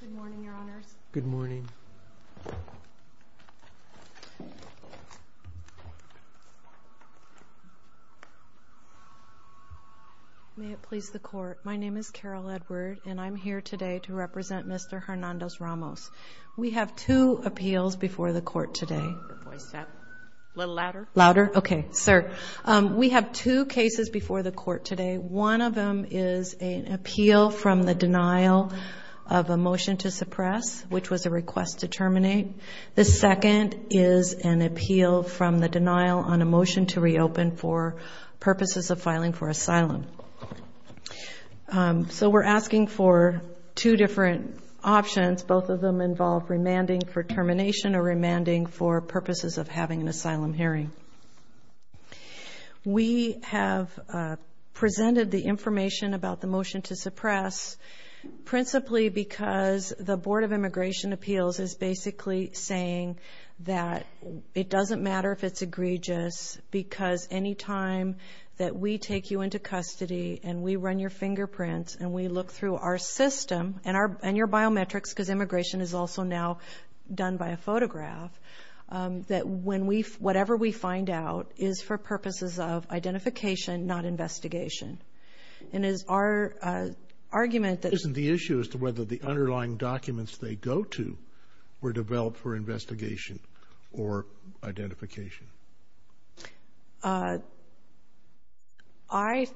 Good morning, Your Honors. Good morning. May it please the Court, my name is Carol Edward and I'm here today to represent Mr. Hernandez-Ramos. We have two appeals before the Court today. A little louder. Louder? Okay, sir. We have two cases before the Court today. One of them is an appeal from the denial of a motion to suppress, which was a request to terminate. The second is an appeal from the denial on a motion to reopen for purposes of filing for asylum. So we're asking for two different options. Both of them involve remanding for termination or remanding for purposes of having an asylum hearing. We have presented the information about the motion to suppress, principally because the Board of Immigration Appeals is basically saying that it doesn't matter if it's egregious because any time that we take you into custody and we run your fingerprints and we look through our system and your biometrics, because immigration is also now done by a photograph, that whatever we find out is for purposes of identification, not investigation. And it is our argument that... Isn't the issue as to whether the underlying documents they go to were developed for investigation or identification? I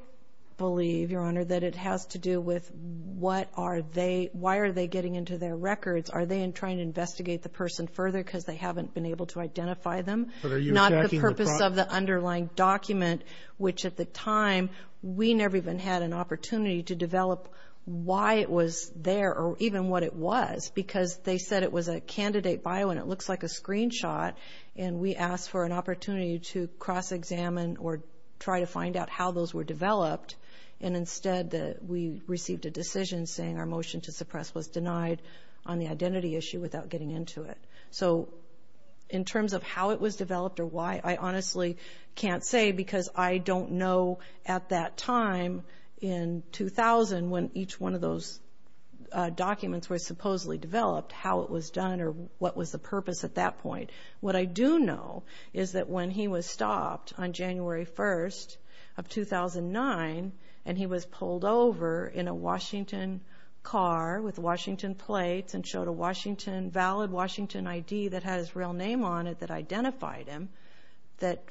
believe, Your Honor, that it has to do with what are they... Why are they getting into their records? Are they trying to investigate the person further because they haven't been able to identify them? Not the purpose of the underlying document, which at the time we never even had an opportunity to develop why it was there or even what it was because they said it was a candidate bio and it looks like a screenshot. And we asked for an opportunity to cross-examine or try to find out how those were developed and instead we received a decision saying our motion to suppress was denied on the identity issue without getting into it. So in terms of how it was developed or why, I honestly can't say because I don't know at that time in 2000 when each one of those documents were supposedly developed, how it was done or what was the purpose at that point. What I do know is that when he was stopped on January 1st of 2009 and he was pulled over in a Washington car with Washington plates and showed a valid Washington ID that had his real name on it that identified him, that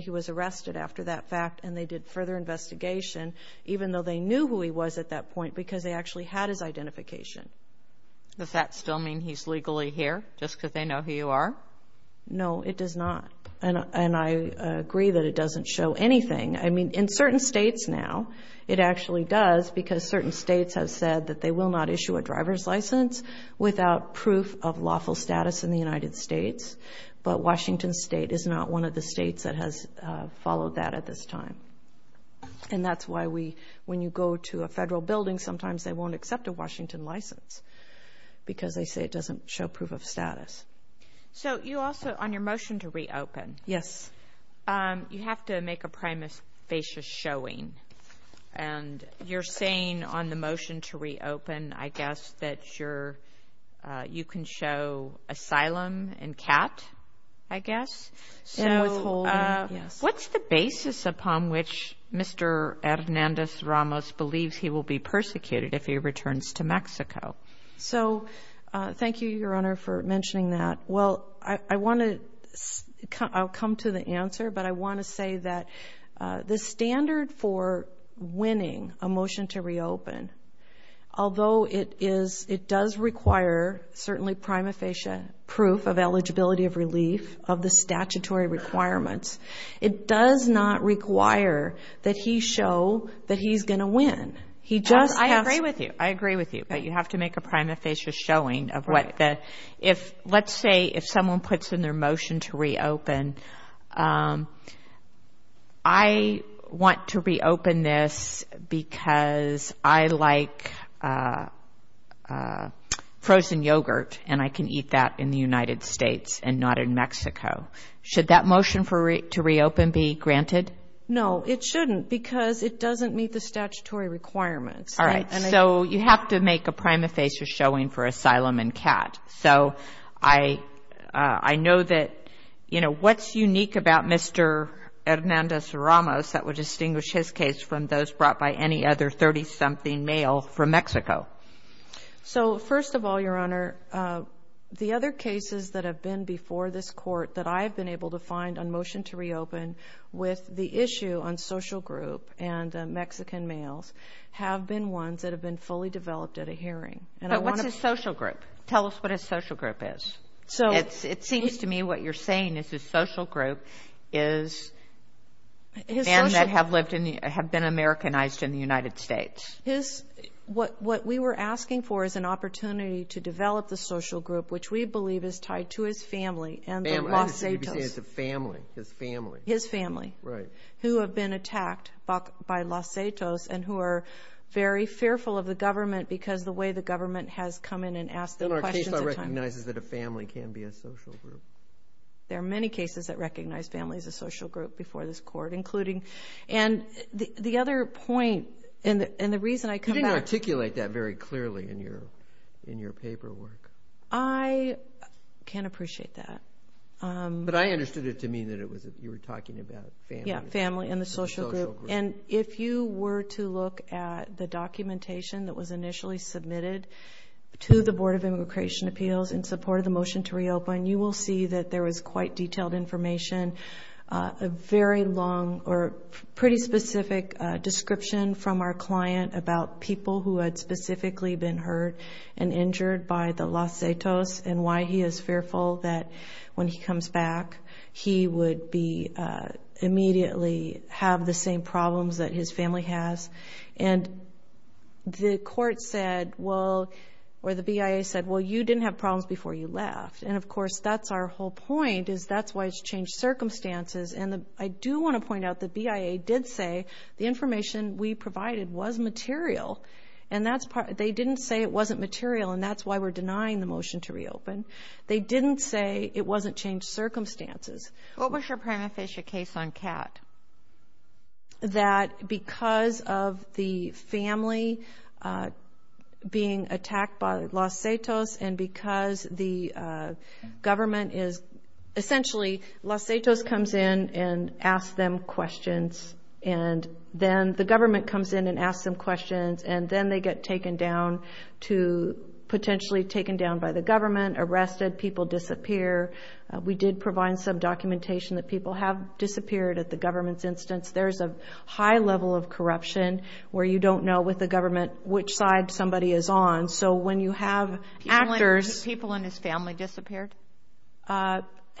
he was arrested after that fact and they did further investigation, even though they knew who he was at that point because they actually had his identification. Does that still mean he's legally here just because they know who you are? No, it does not and I agree that it doesn't show anything. I mean in certain states now it actually does because certain states have said that they will not issue a driver's license without proof of lawful status in the United States, but Washington State is not one of the states that has followed that at this time. And that's why when you go to a federal building sometimes they won't accept a Washington license because they say it doesn't show proof of status. So you also, on your motion to reopen, you have to make a prima facie showing and you're saying on the motion to reopen I guess that you can show asylum and cat, I guess. And withholding, yes. What's the basis upon which Mr. Hernandez-Ramos believes he will be persecuted if he returns to Mexico? So thank you, Your Honor, for mentioning that. Well, I want to come to the answer, but I want to say that the standard for winning a motion to reopen, although it does require certainly prima facie proof of eligibility of relief of the statutory requirements, it does not require that he show that he's going to win. He just has to. I agree with you. I agree with you, but you have to make a prima facie showing of what the, if let's say if someone puts in their motion to reopen, I want to reopen this because I like frozen yogurt and I can eat that in the United States and not in Mexico. Should that motion to reopen be granted? No, it shouldn't because it doesn't meet the statutory requirements. All right. So you have to make a prima facie showing for asylum and cat. So I know that, you know, what's unique about Mr. Hernandez-Ramos that would distinguish his case from those brought by any other 30-something male from Mexico? So first of all, Your Honor, the other cases that have been before this court that I've been able to find on motion to reopen with the issue on social group and Mexican males have been ones that have been fully developed at a hearing. But what's his social group? Tell us what his social group is. It seems to me what you're saying is his social group is men that have been Americanized in the United States. What we were asking for is an opportunity to develop the social group, which we believe is tied to his family and the Los Satos. You'd be saying it's a family, his family. His family. Right. Who have been attacked by Los Satos and who are very fearful of the government because the way the government has come in and asked them questions at times. In our case, I recognize that a family can be a social group. There are many cases that recognize families as social group before this court, including. The other point and the reason I come back. You didn't articulate that very clearly in your paperwork. I can appreciate that. But I understood it to mean that you were talking about family. Yeah, family and the social group. And if you were to look at the documentation that was initially submitted to the Board of Immigration Appeals in support of the motion to reopen, you will see that there was quite detailed information, a very long or pretty specific description from our client about people who had specifically been hurt and injured by the Los Satos and why he is fearful that when he comes back, he would be immediately have the same problems that his family has. And the court said, well, or the BIA said, well, you didn't have problems before you left. And, of course, that's our whole point is that's why it's changed circumstances. And I do want to point out the BIA did say the information we provided was material. And they didn't say it wasn't material. And that's why we're denying the motion to reopen. They didn't say it wasn't changed circumstances. What was your prima facie case on Kat? That because of the family being attacked by Los Satos and because the government is essentially Los Satos comes in and asks them questions. And then the government comes in and asks them questions. And then they get taken down to potentially taken down by the government, arrested. People disappear. We did provide some documentation that people have disappeared at the government's instance. There's a high level of corruption where you don't know with the government which side somebody is on. So when you have actors. People in his family disappeared? Or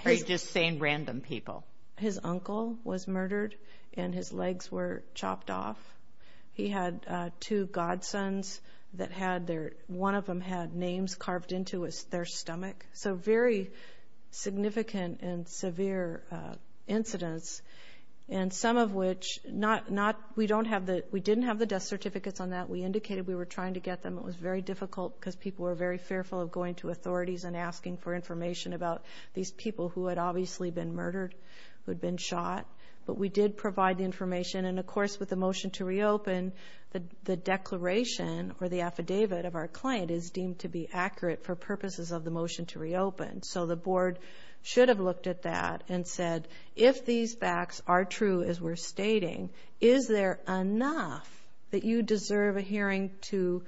are you just saying random people? His uncle was murdered and his legs were chopped off. He had two godsons that had their, one of them had names carved into their stomach. So very significant and severe incidents. And some of which not, we don't have the, we didn't have the death certificates on that. We indicated we were trying to get them. It was very difficult because people were very fearful of going to authorities and asking for information about these people who had obviously been murdered, who had been shot. But we did provide the information. And, of course, with the motion to reopen, the declaration or the affidavit of our client is deemed to be reopened. So the board should have looked at that and said, if these facts are true as we're stating, is there enough that you deserve a hearing to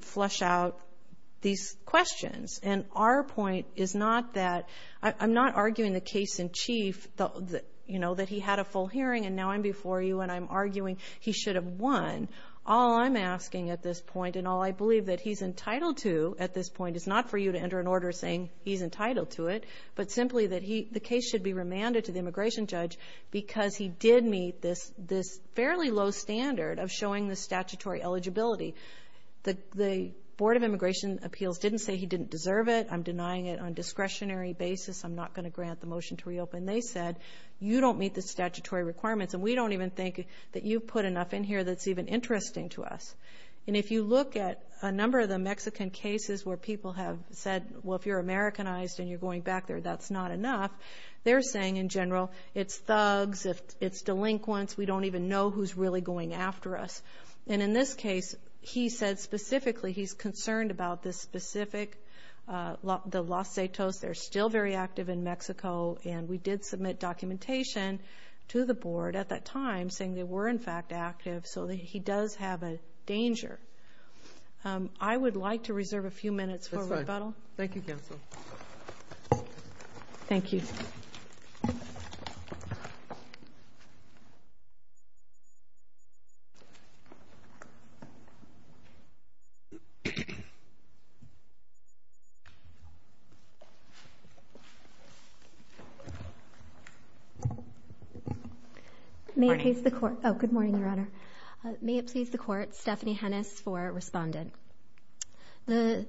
flush out these questions? And our point is not that, I'm not arguing the case in chief, you know, that he had a full hearing and now I'm before you and I'm arguing he should have won. All I'm asking at this point and all I believe that he's entitled to at this point is not for you to enter an order saying he's entitled to it, but simply that the case should be remanded to the immigration judge because he did meet this fairly low standard of showing the statutory eligibility. The Board of Immigration Appeals didn't say he didn't deserve it. I'm denying it on a discretionary basis. I'm not going to grant the motion to reopen. They said, you don't meet the statutory requirements and we don't even think that you've put enough in here that's even interesting to us. And if you look at a number of the Mexican cases where people have said, well, if you're Americanized and you're going back there, that's not enough. They're saying, in general, it's thugs, it's delinquents, we don't even know who's really going after us. And in this case, he said specifically he's concerned about this specific, the Los Zetos, they're still very active in Mexico and we did submit documentation to the board at that time saying they were, in fact, active. So he does have a danger. I would like to reserve a few minutes for rebuttal. Thank you, counsel. Thank you. May it please the court. Oh, good morning, Your Honor. May it please the court. Stephanie Hennis for Respondent. The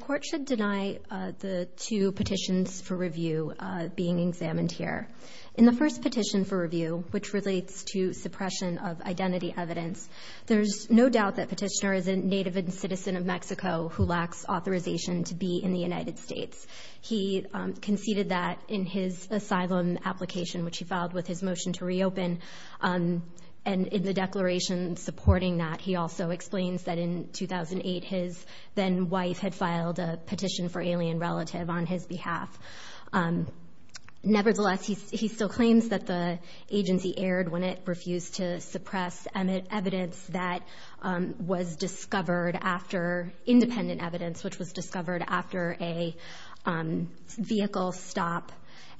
court should deny the two petitions for review being examined here. In the first petition for review, which relates to suppression of identity evidence, there's no doubt that Petitioner is a native and citizen of Mexico who lacks authorization to be in the United States. He conceded that in his asylum application, which he filed with his motion to reopen. And in the declaration supporting that, he also explains that in 2008, his then-wife had filed a petition for alien relative on his behalf. Nevertheless, he still claims that the agency erred when it refused to suppress evidence that was discovered after independent evidence, which was discovered after a vehicle stop.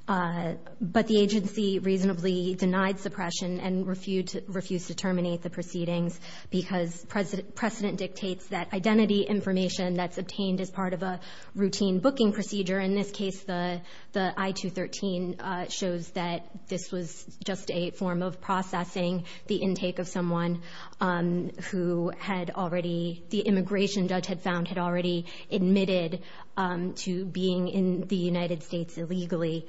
But the agency reasonably denied suppression and refused to terminate the proceedings because precedent dictates that identity information that's obtained as part of a routine booking procedure, in this case the I-213, shows that this was just a form of processing the intake of someone who had already, the immigration judge had found had already admitted to being in the United States illegally,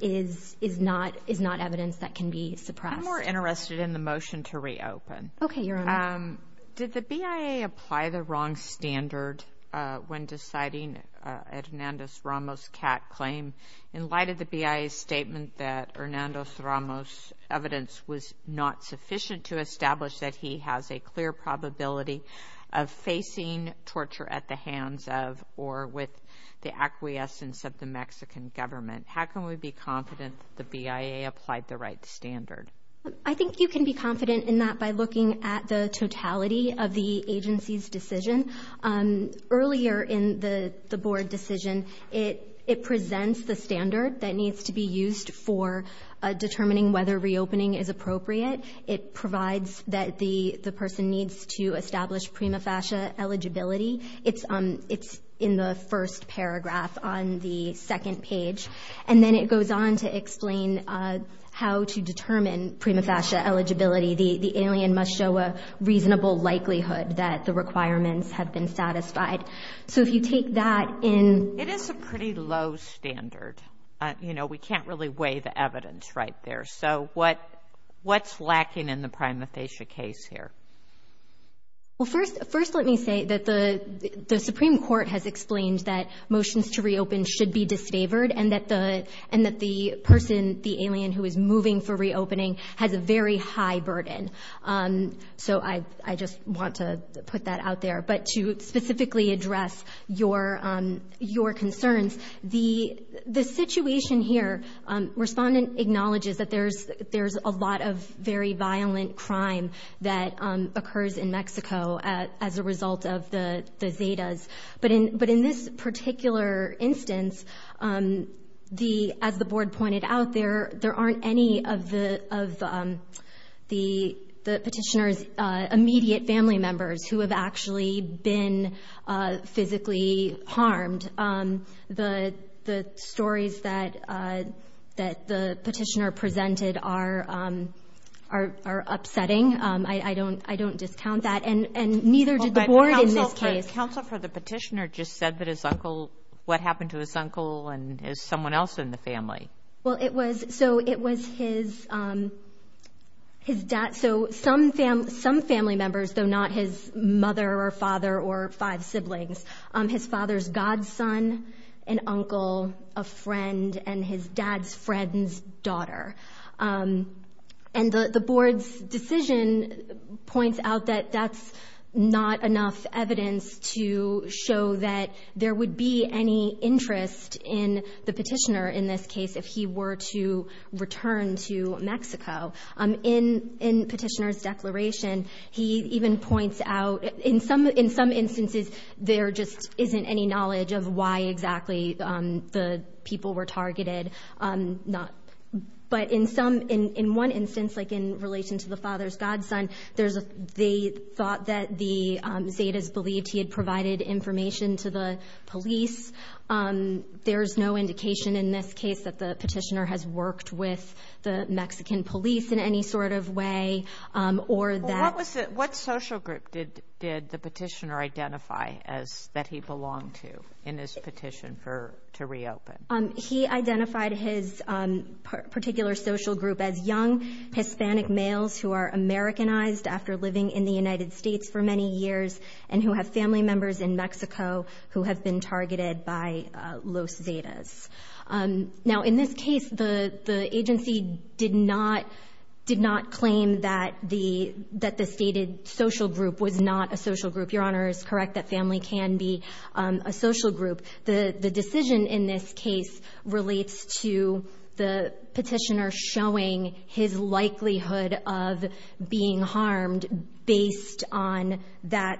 is not evidence that can be suppressed. I'm more interested in the motion to reopen. Okay, Your Honor. Did the BIA apply the wrong standard when deciding Hernando Ramos' CAT claim? In light of the BIA's statement that Hernando Ramos' evidence was not sufficient to establish that he has a clear probability of facing torture at the hands of or with the acquiescence of the Mexican government, how can we be confident that the BIA applied the right standard? I think you can be confident in that by looking at the totality of the agency's decision. Earlier in the board decision, it presents the standard that needs to be used for determining whether reopening is appropriate. It provides that the person needs to establish prima facie eligibility. It's in the first paragraph on the second page. And then it goes on to explain how to determine prima facie eligibility. The alien must show a reasonable likelihood that the requirements have been satisfied. So if you take that in. It is a pretty low standard. You know, we can't really weigh the evidence right there. So what's lacking in the prima facie case here? Well, first let me say that the Supreme Court has explained that motions to reopen should be disfavored and that the person, the alien who is moving for reopening, has a very high burden. So I just want to put that out there. But to specifically address your concerns, the situation here, respondent acknowledges that there's a lot of very violent crime that occurs in Mexico as a result of the Zetas. But in this particular instance, as the board pointed out, there aren't any of the petitioner's immediate family members who have actually been physically harmed. The stories that the petitioner presented are upsetting. I don't discount that. And neither did the board in this case. The counsel for the petitioner just said that his uncle, what happened to his uncle and someone else in the family. Well, it was, so it was his dad, so some family members, though not his mother or father or five siblings, his father's godson, an uncle, a friend, and his dad's friend's daughter. And the board's decision points out that that's not enough evidence to show that there would be any interest in the petitioner in this case if he were to return to Mexico. In petitioner's declaration, he even points out, in some instances, there just isn't any knowledge of why exactly the people were targeted. But in some, in one instance, like in relation to the father's godson, they thought that the Zetas believed he had provided information to the police. There's no indication in this case that the petitioner has worked with the Mexican police in any sort of way or that. Well, what social group did the petitioner identify that he belonged to in his petition to reopen? He identified his particular social group as young Hispanic males who are Americanized after living in the United States for many years and who have family members in Mexico who have been targeted by Los Zetas. Now, in this case, the agency did not claim that the stated social group was not a social group. Your Honor is correct that family can be a social group. The decision in this case relates to the petitioner showing his likelihood of being harmed based on that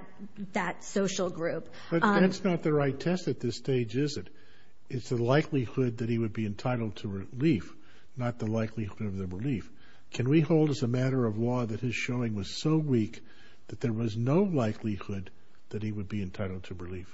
social group. But that's not the right test at this stage, is it? It's the likelihood that he would be entitled to relief, not the likelihood of the relief. Can we hold as a matter of law that his showing was so weak that there was no likelihood that he would be entitled to relief?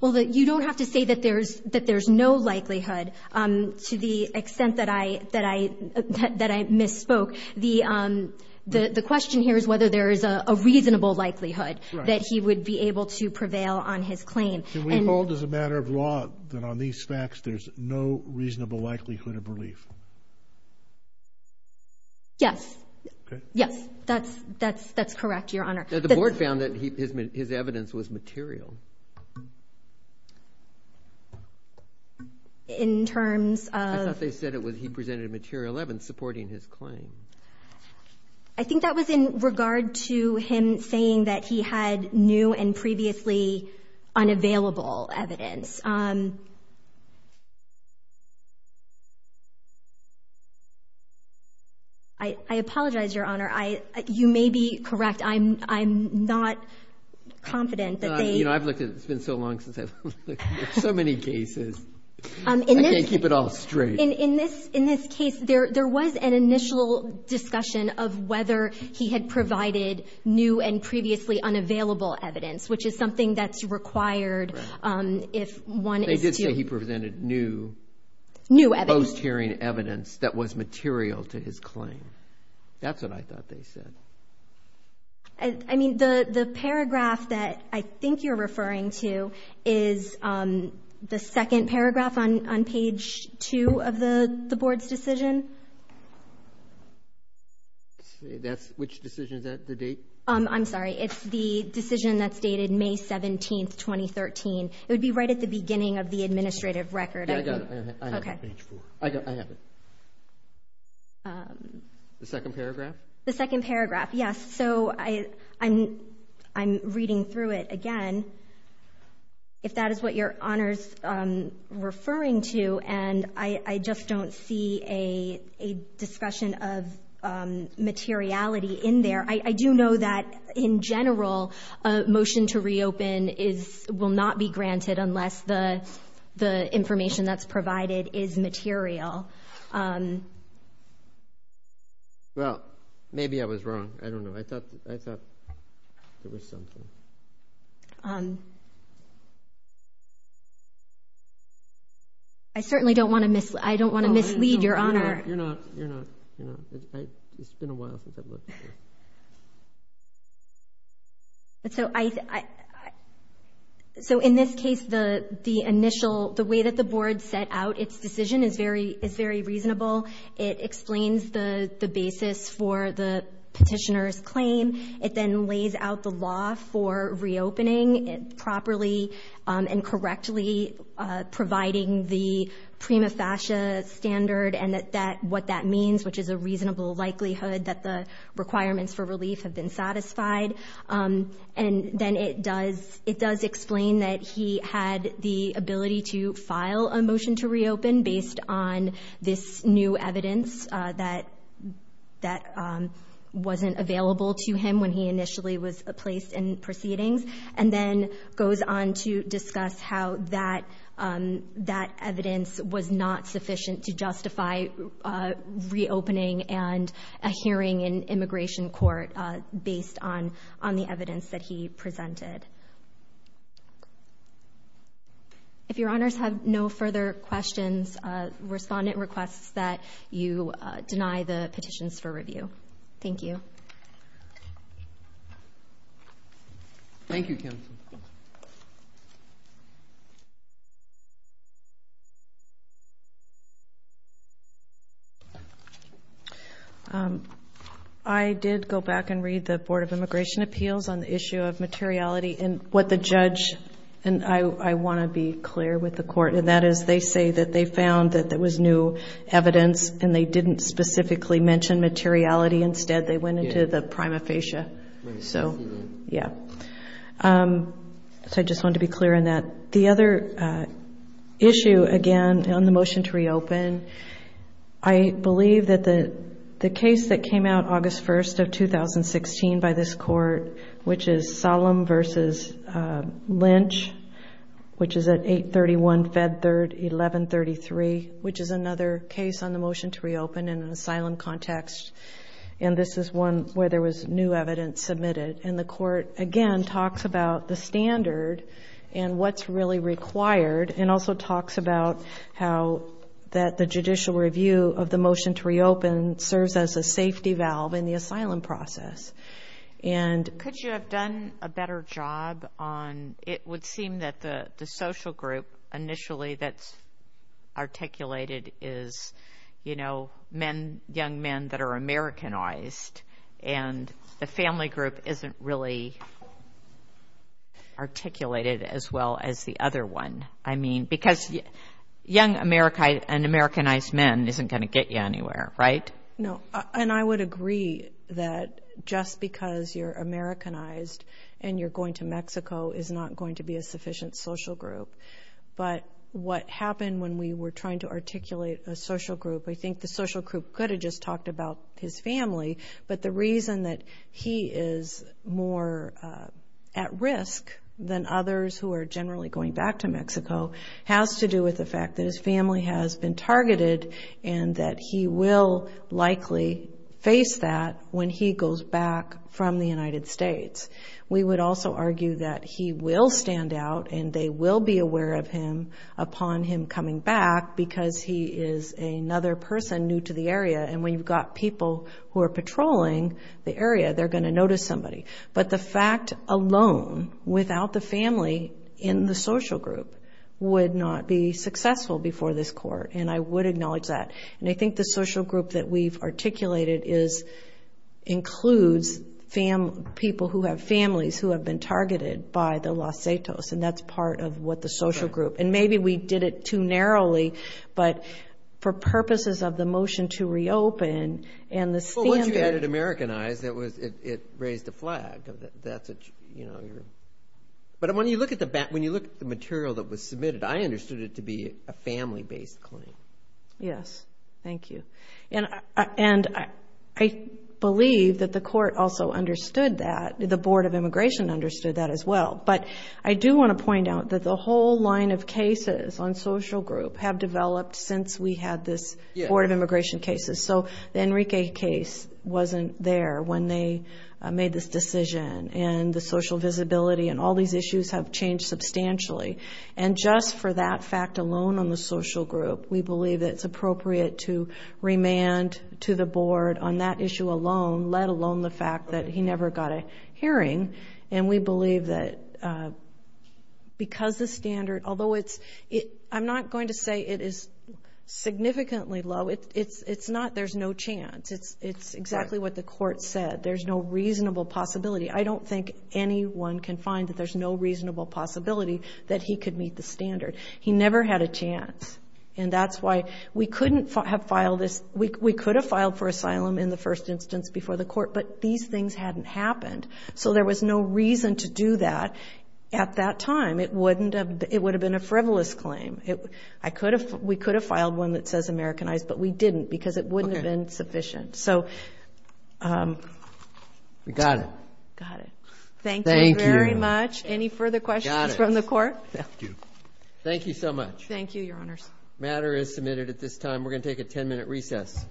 Well, you don't have to say that there's no likelihood to the extent that I misspoke. The question here is whether there is a reasonable likelihood that he would be able to prevail on his claim. Can we hold as a matter of law that on these facts there's no reasonable likelihood of relief? Yes. Yes, that's correct, Your Honor. The board found that his evidence was material. I thought they said he presented material evidence supporting his claim. I think that was in regard to him saying that he had new and previously unavailable evidence. I apologize, Your Honor. You may be correct. I'm not confident that they- It's been so long since I've looked at so many cases. I can't keep it all straight. In this case, there was an initial discussion of whether he had provided new and previously unavailable evidence, which is something that's required if one is to- They did say he presented new- New evidence. Post-hearing evidence that was material to his claim. That's what I thought they said. I mean, the paragraph that I think you're referring to is the second paragraph on page 2 of the board's decision. Which decision is that? The date? I'm sorry. It's the decision that's dated May 17, 2013. It would be right at the beginning of the administrative record. Yeah, I got it. Okay. I have it. The second paragraph? The second paragraph, yes. So, I'm reading through it again. If that is what Your Honor's referring to, and I just don't see a discussion of materiality in there. I do know that, in general, a motion to reopen will not be granted unless the information that's provided is material. Well, maybe I was wrong. I don't know. I thought there was something. I certainly don't want to mislead Your Honor. You're not. It's been a while since I've looked at it. So, in this case, the way that the board set out its decision is very reasonable. It explains the basis for the petitioner's claim. It then lays out the law for reopening properly and correctly, providing the prima facie standard and what that means, which is a reasonable likelihood that the requirements for relief have been satisfied. And then it does explain that he had the ability to file a motion to reopen based on this new evidence that wasn't available to him. When he initially was placed in proceedings, and then goes on to discuss how that evidence was not sufficient to justify reopening and a hearing in immigration court based on the evidence that he presented. If Your Honors have no further questions, respondent requests that you deny the petitions for review. Thank you. Thank you, Kim. I did go back and read the Board of Immigration Appeals on the issue of materiality and what the judge, and I want to be clear with the court, and that is they say that they found that there was new evidence and they didn't specifically mention materiality. Instead, they went into the prima facie. So, yeah. So I just wanted to be clear on that. The other issue, again, on the motion to reopen, I believe that the case that came out August 1st of 2016 by this court, which is Solemn v. Lynch, which is at 831 Fed Third 1133, which is another case on the motion to reopen in an asylum context. And this is one where there was new evidence submitted. And the court, again, talks about the standard and what's really required, and also talks about how that the judicial review of the motion to reopen serves as a safety valve in the asylum process. And could you have done a better job on it would seem that the social group initially that's articulated is, you know, young men that are Americanized, and the family group isn't really articulated as well as the other one. I mean, because young Americanized men isn't going to get you anywhere, right? No. And I would agree that just because you're Americanized and you're going to Mexico is not going to be a sufficient social group. But what happened when we were trying to articulate a social group, I think the social group could have just talked about his family. But the reason that he is more at risk than others who are generally going back to Mexico has to do with the fact that his family has been likely face that when he goes back from the United States. We would also argue that he will stand out and they will be aware of him upon him coming back because he is another person new to the area. And when you've got people who are patrolling the area, they're going to notice somebody. But the fact alone without the family in the social group would not be successful before this court, and I would acknowledge that. And I think the social group that we've articulated includes people who have families who have been targeted by the Los Setos, and that's part of what the social group. And maybe we did it too narrowly, but for purposes of the motion to reopen and the standard. Well, once you added Americanized, it raised a flag. But when you look at the material that was submitted, I understood it to be a family-based claim. Yes, thank you. And I believe that the court also understood that. The Board of Immigration understood that as well. But I do want to point out that the whole line of cases on social group have developed since we had this Board of Immigration cases. So the Enrique case wasn't there when they made this decision. And the social visibility and all these issues have changed substantially. And just for that fact alone on the social group, we believe that it's appropriate to remand to the Board on that issue alone, let alone the fact that he never got a hearing. And we believe that because the standard, although it's – I'm not going to say it is significantly low. It's not there's no chance. It's exactly what the court said. There's no reasonable possibility. I don't think anyone can find that there's no reasonable possibility that he could meet the standard. He never had a chance. And that's why we couldn't have filed this. We could have filed for asylum in the first instance before the court, but these things hadn't happened. So there was no reason to do that at that time. It wouldn't have – it would have been a frivolous claim. I could have – we could have filed one that says Americanized, but we didn't because it wouldn't have been sufficient. So we got it. Got it. Thank you. Thank you very much. Any further questions from the court? Thank you. Thank you so much. Thank you, Your Honors. The matter is submitted at this time. We're going to take a 10-minute recess.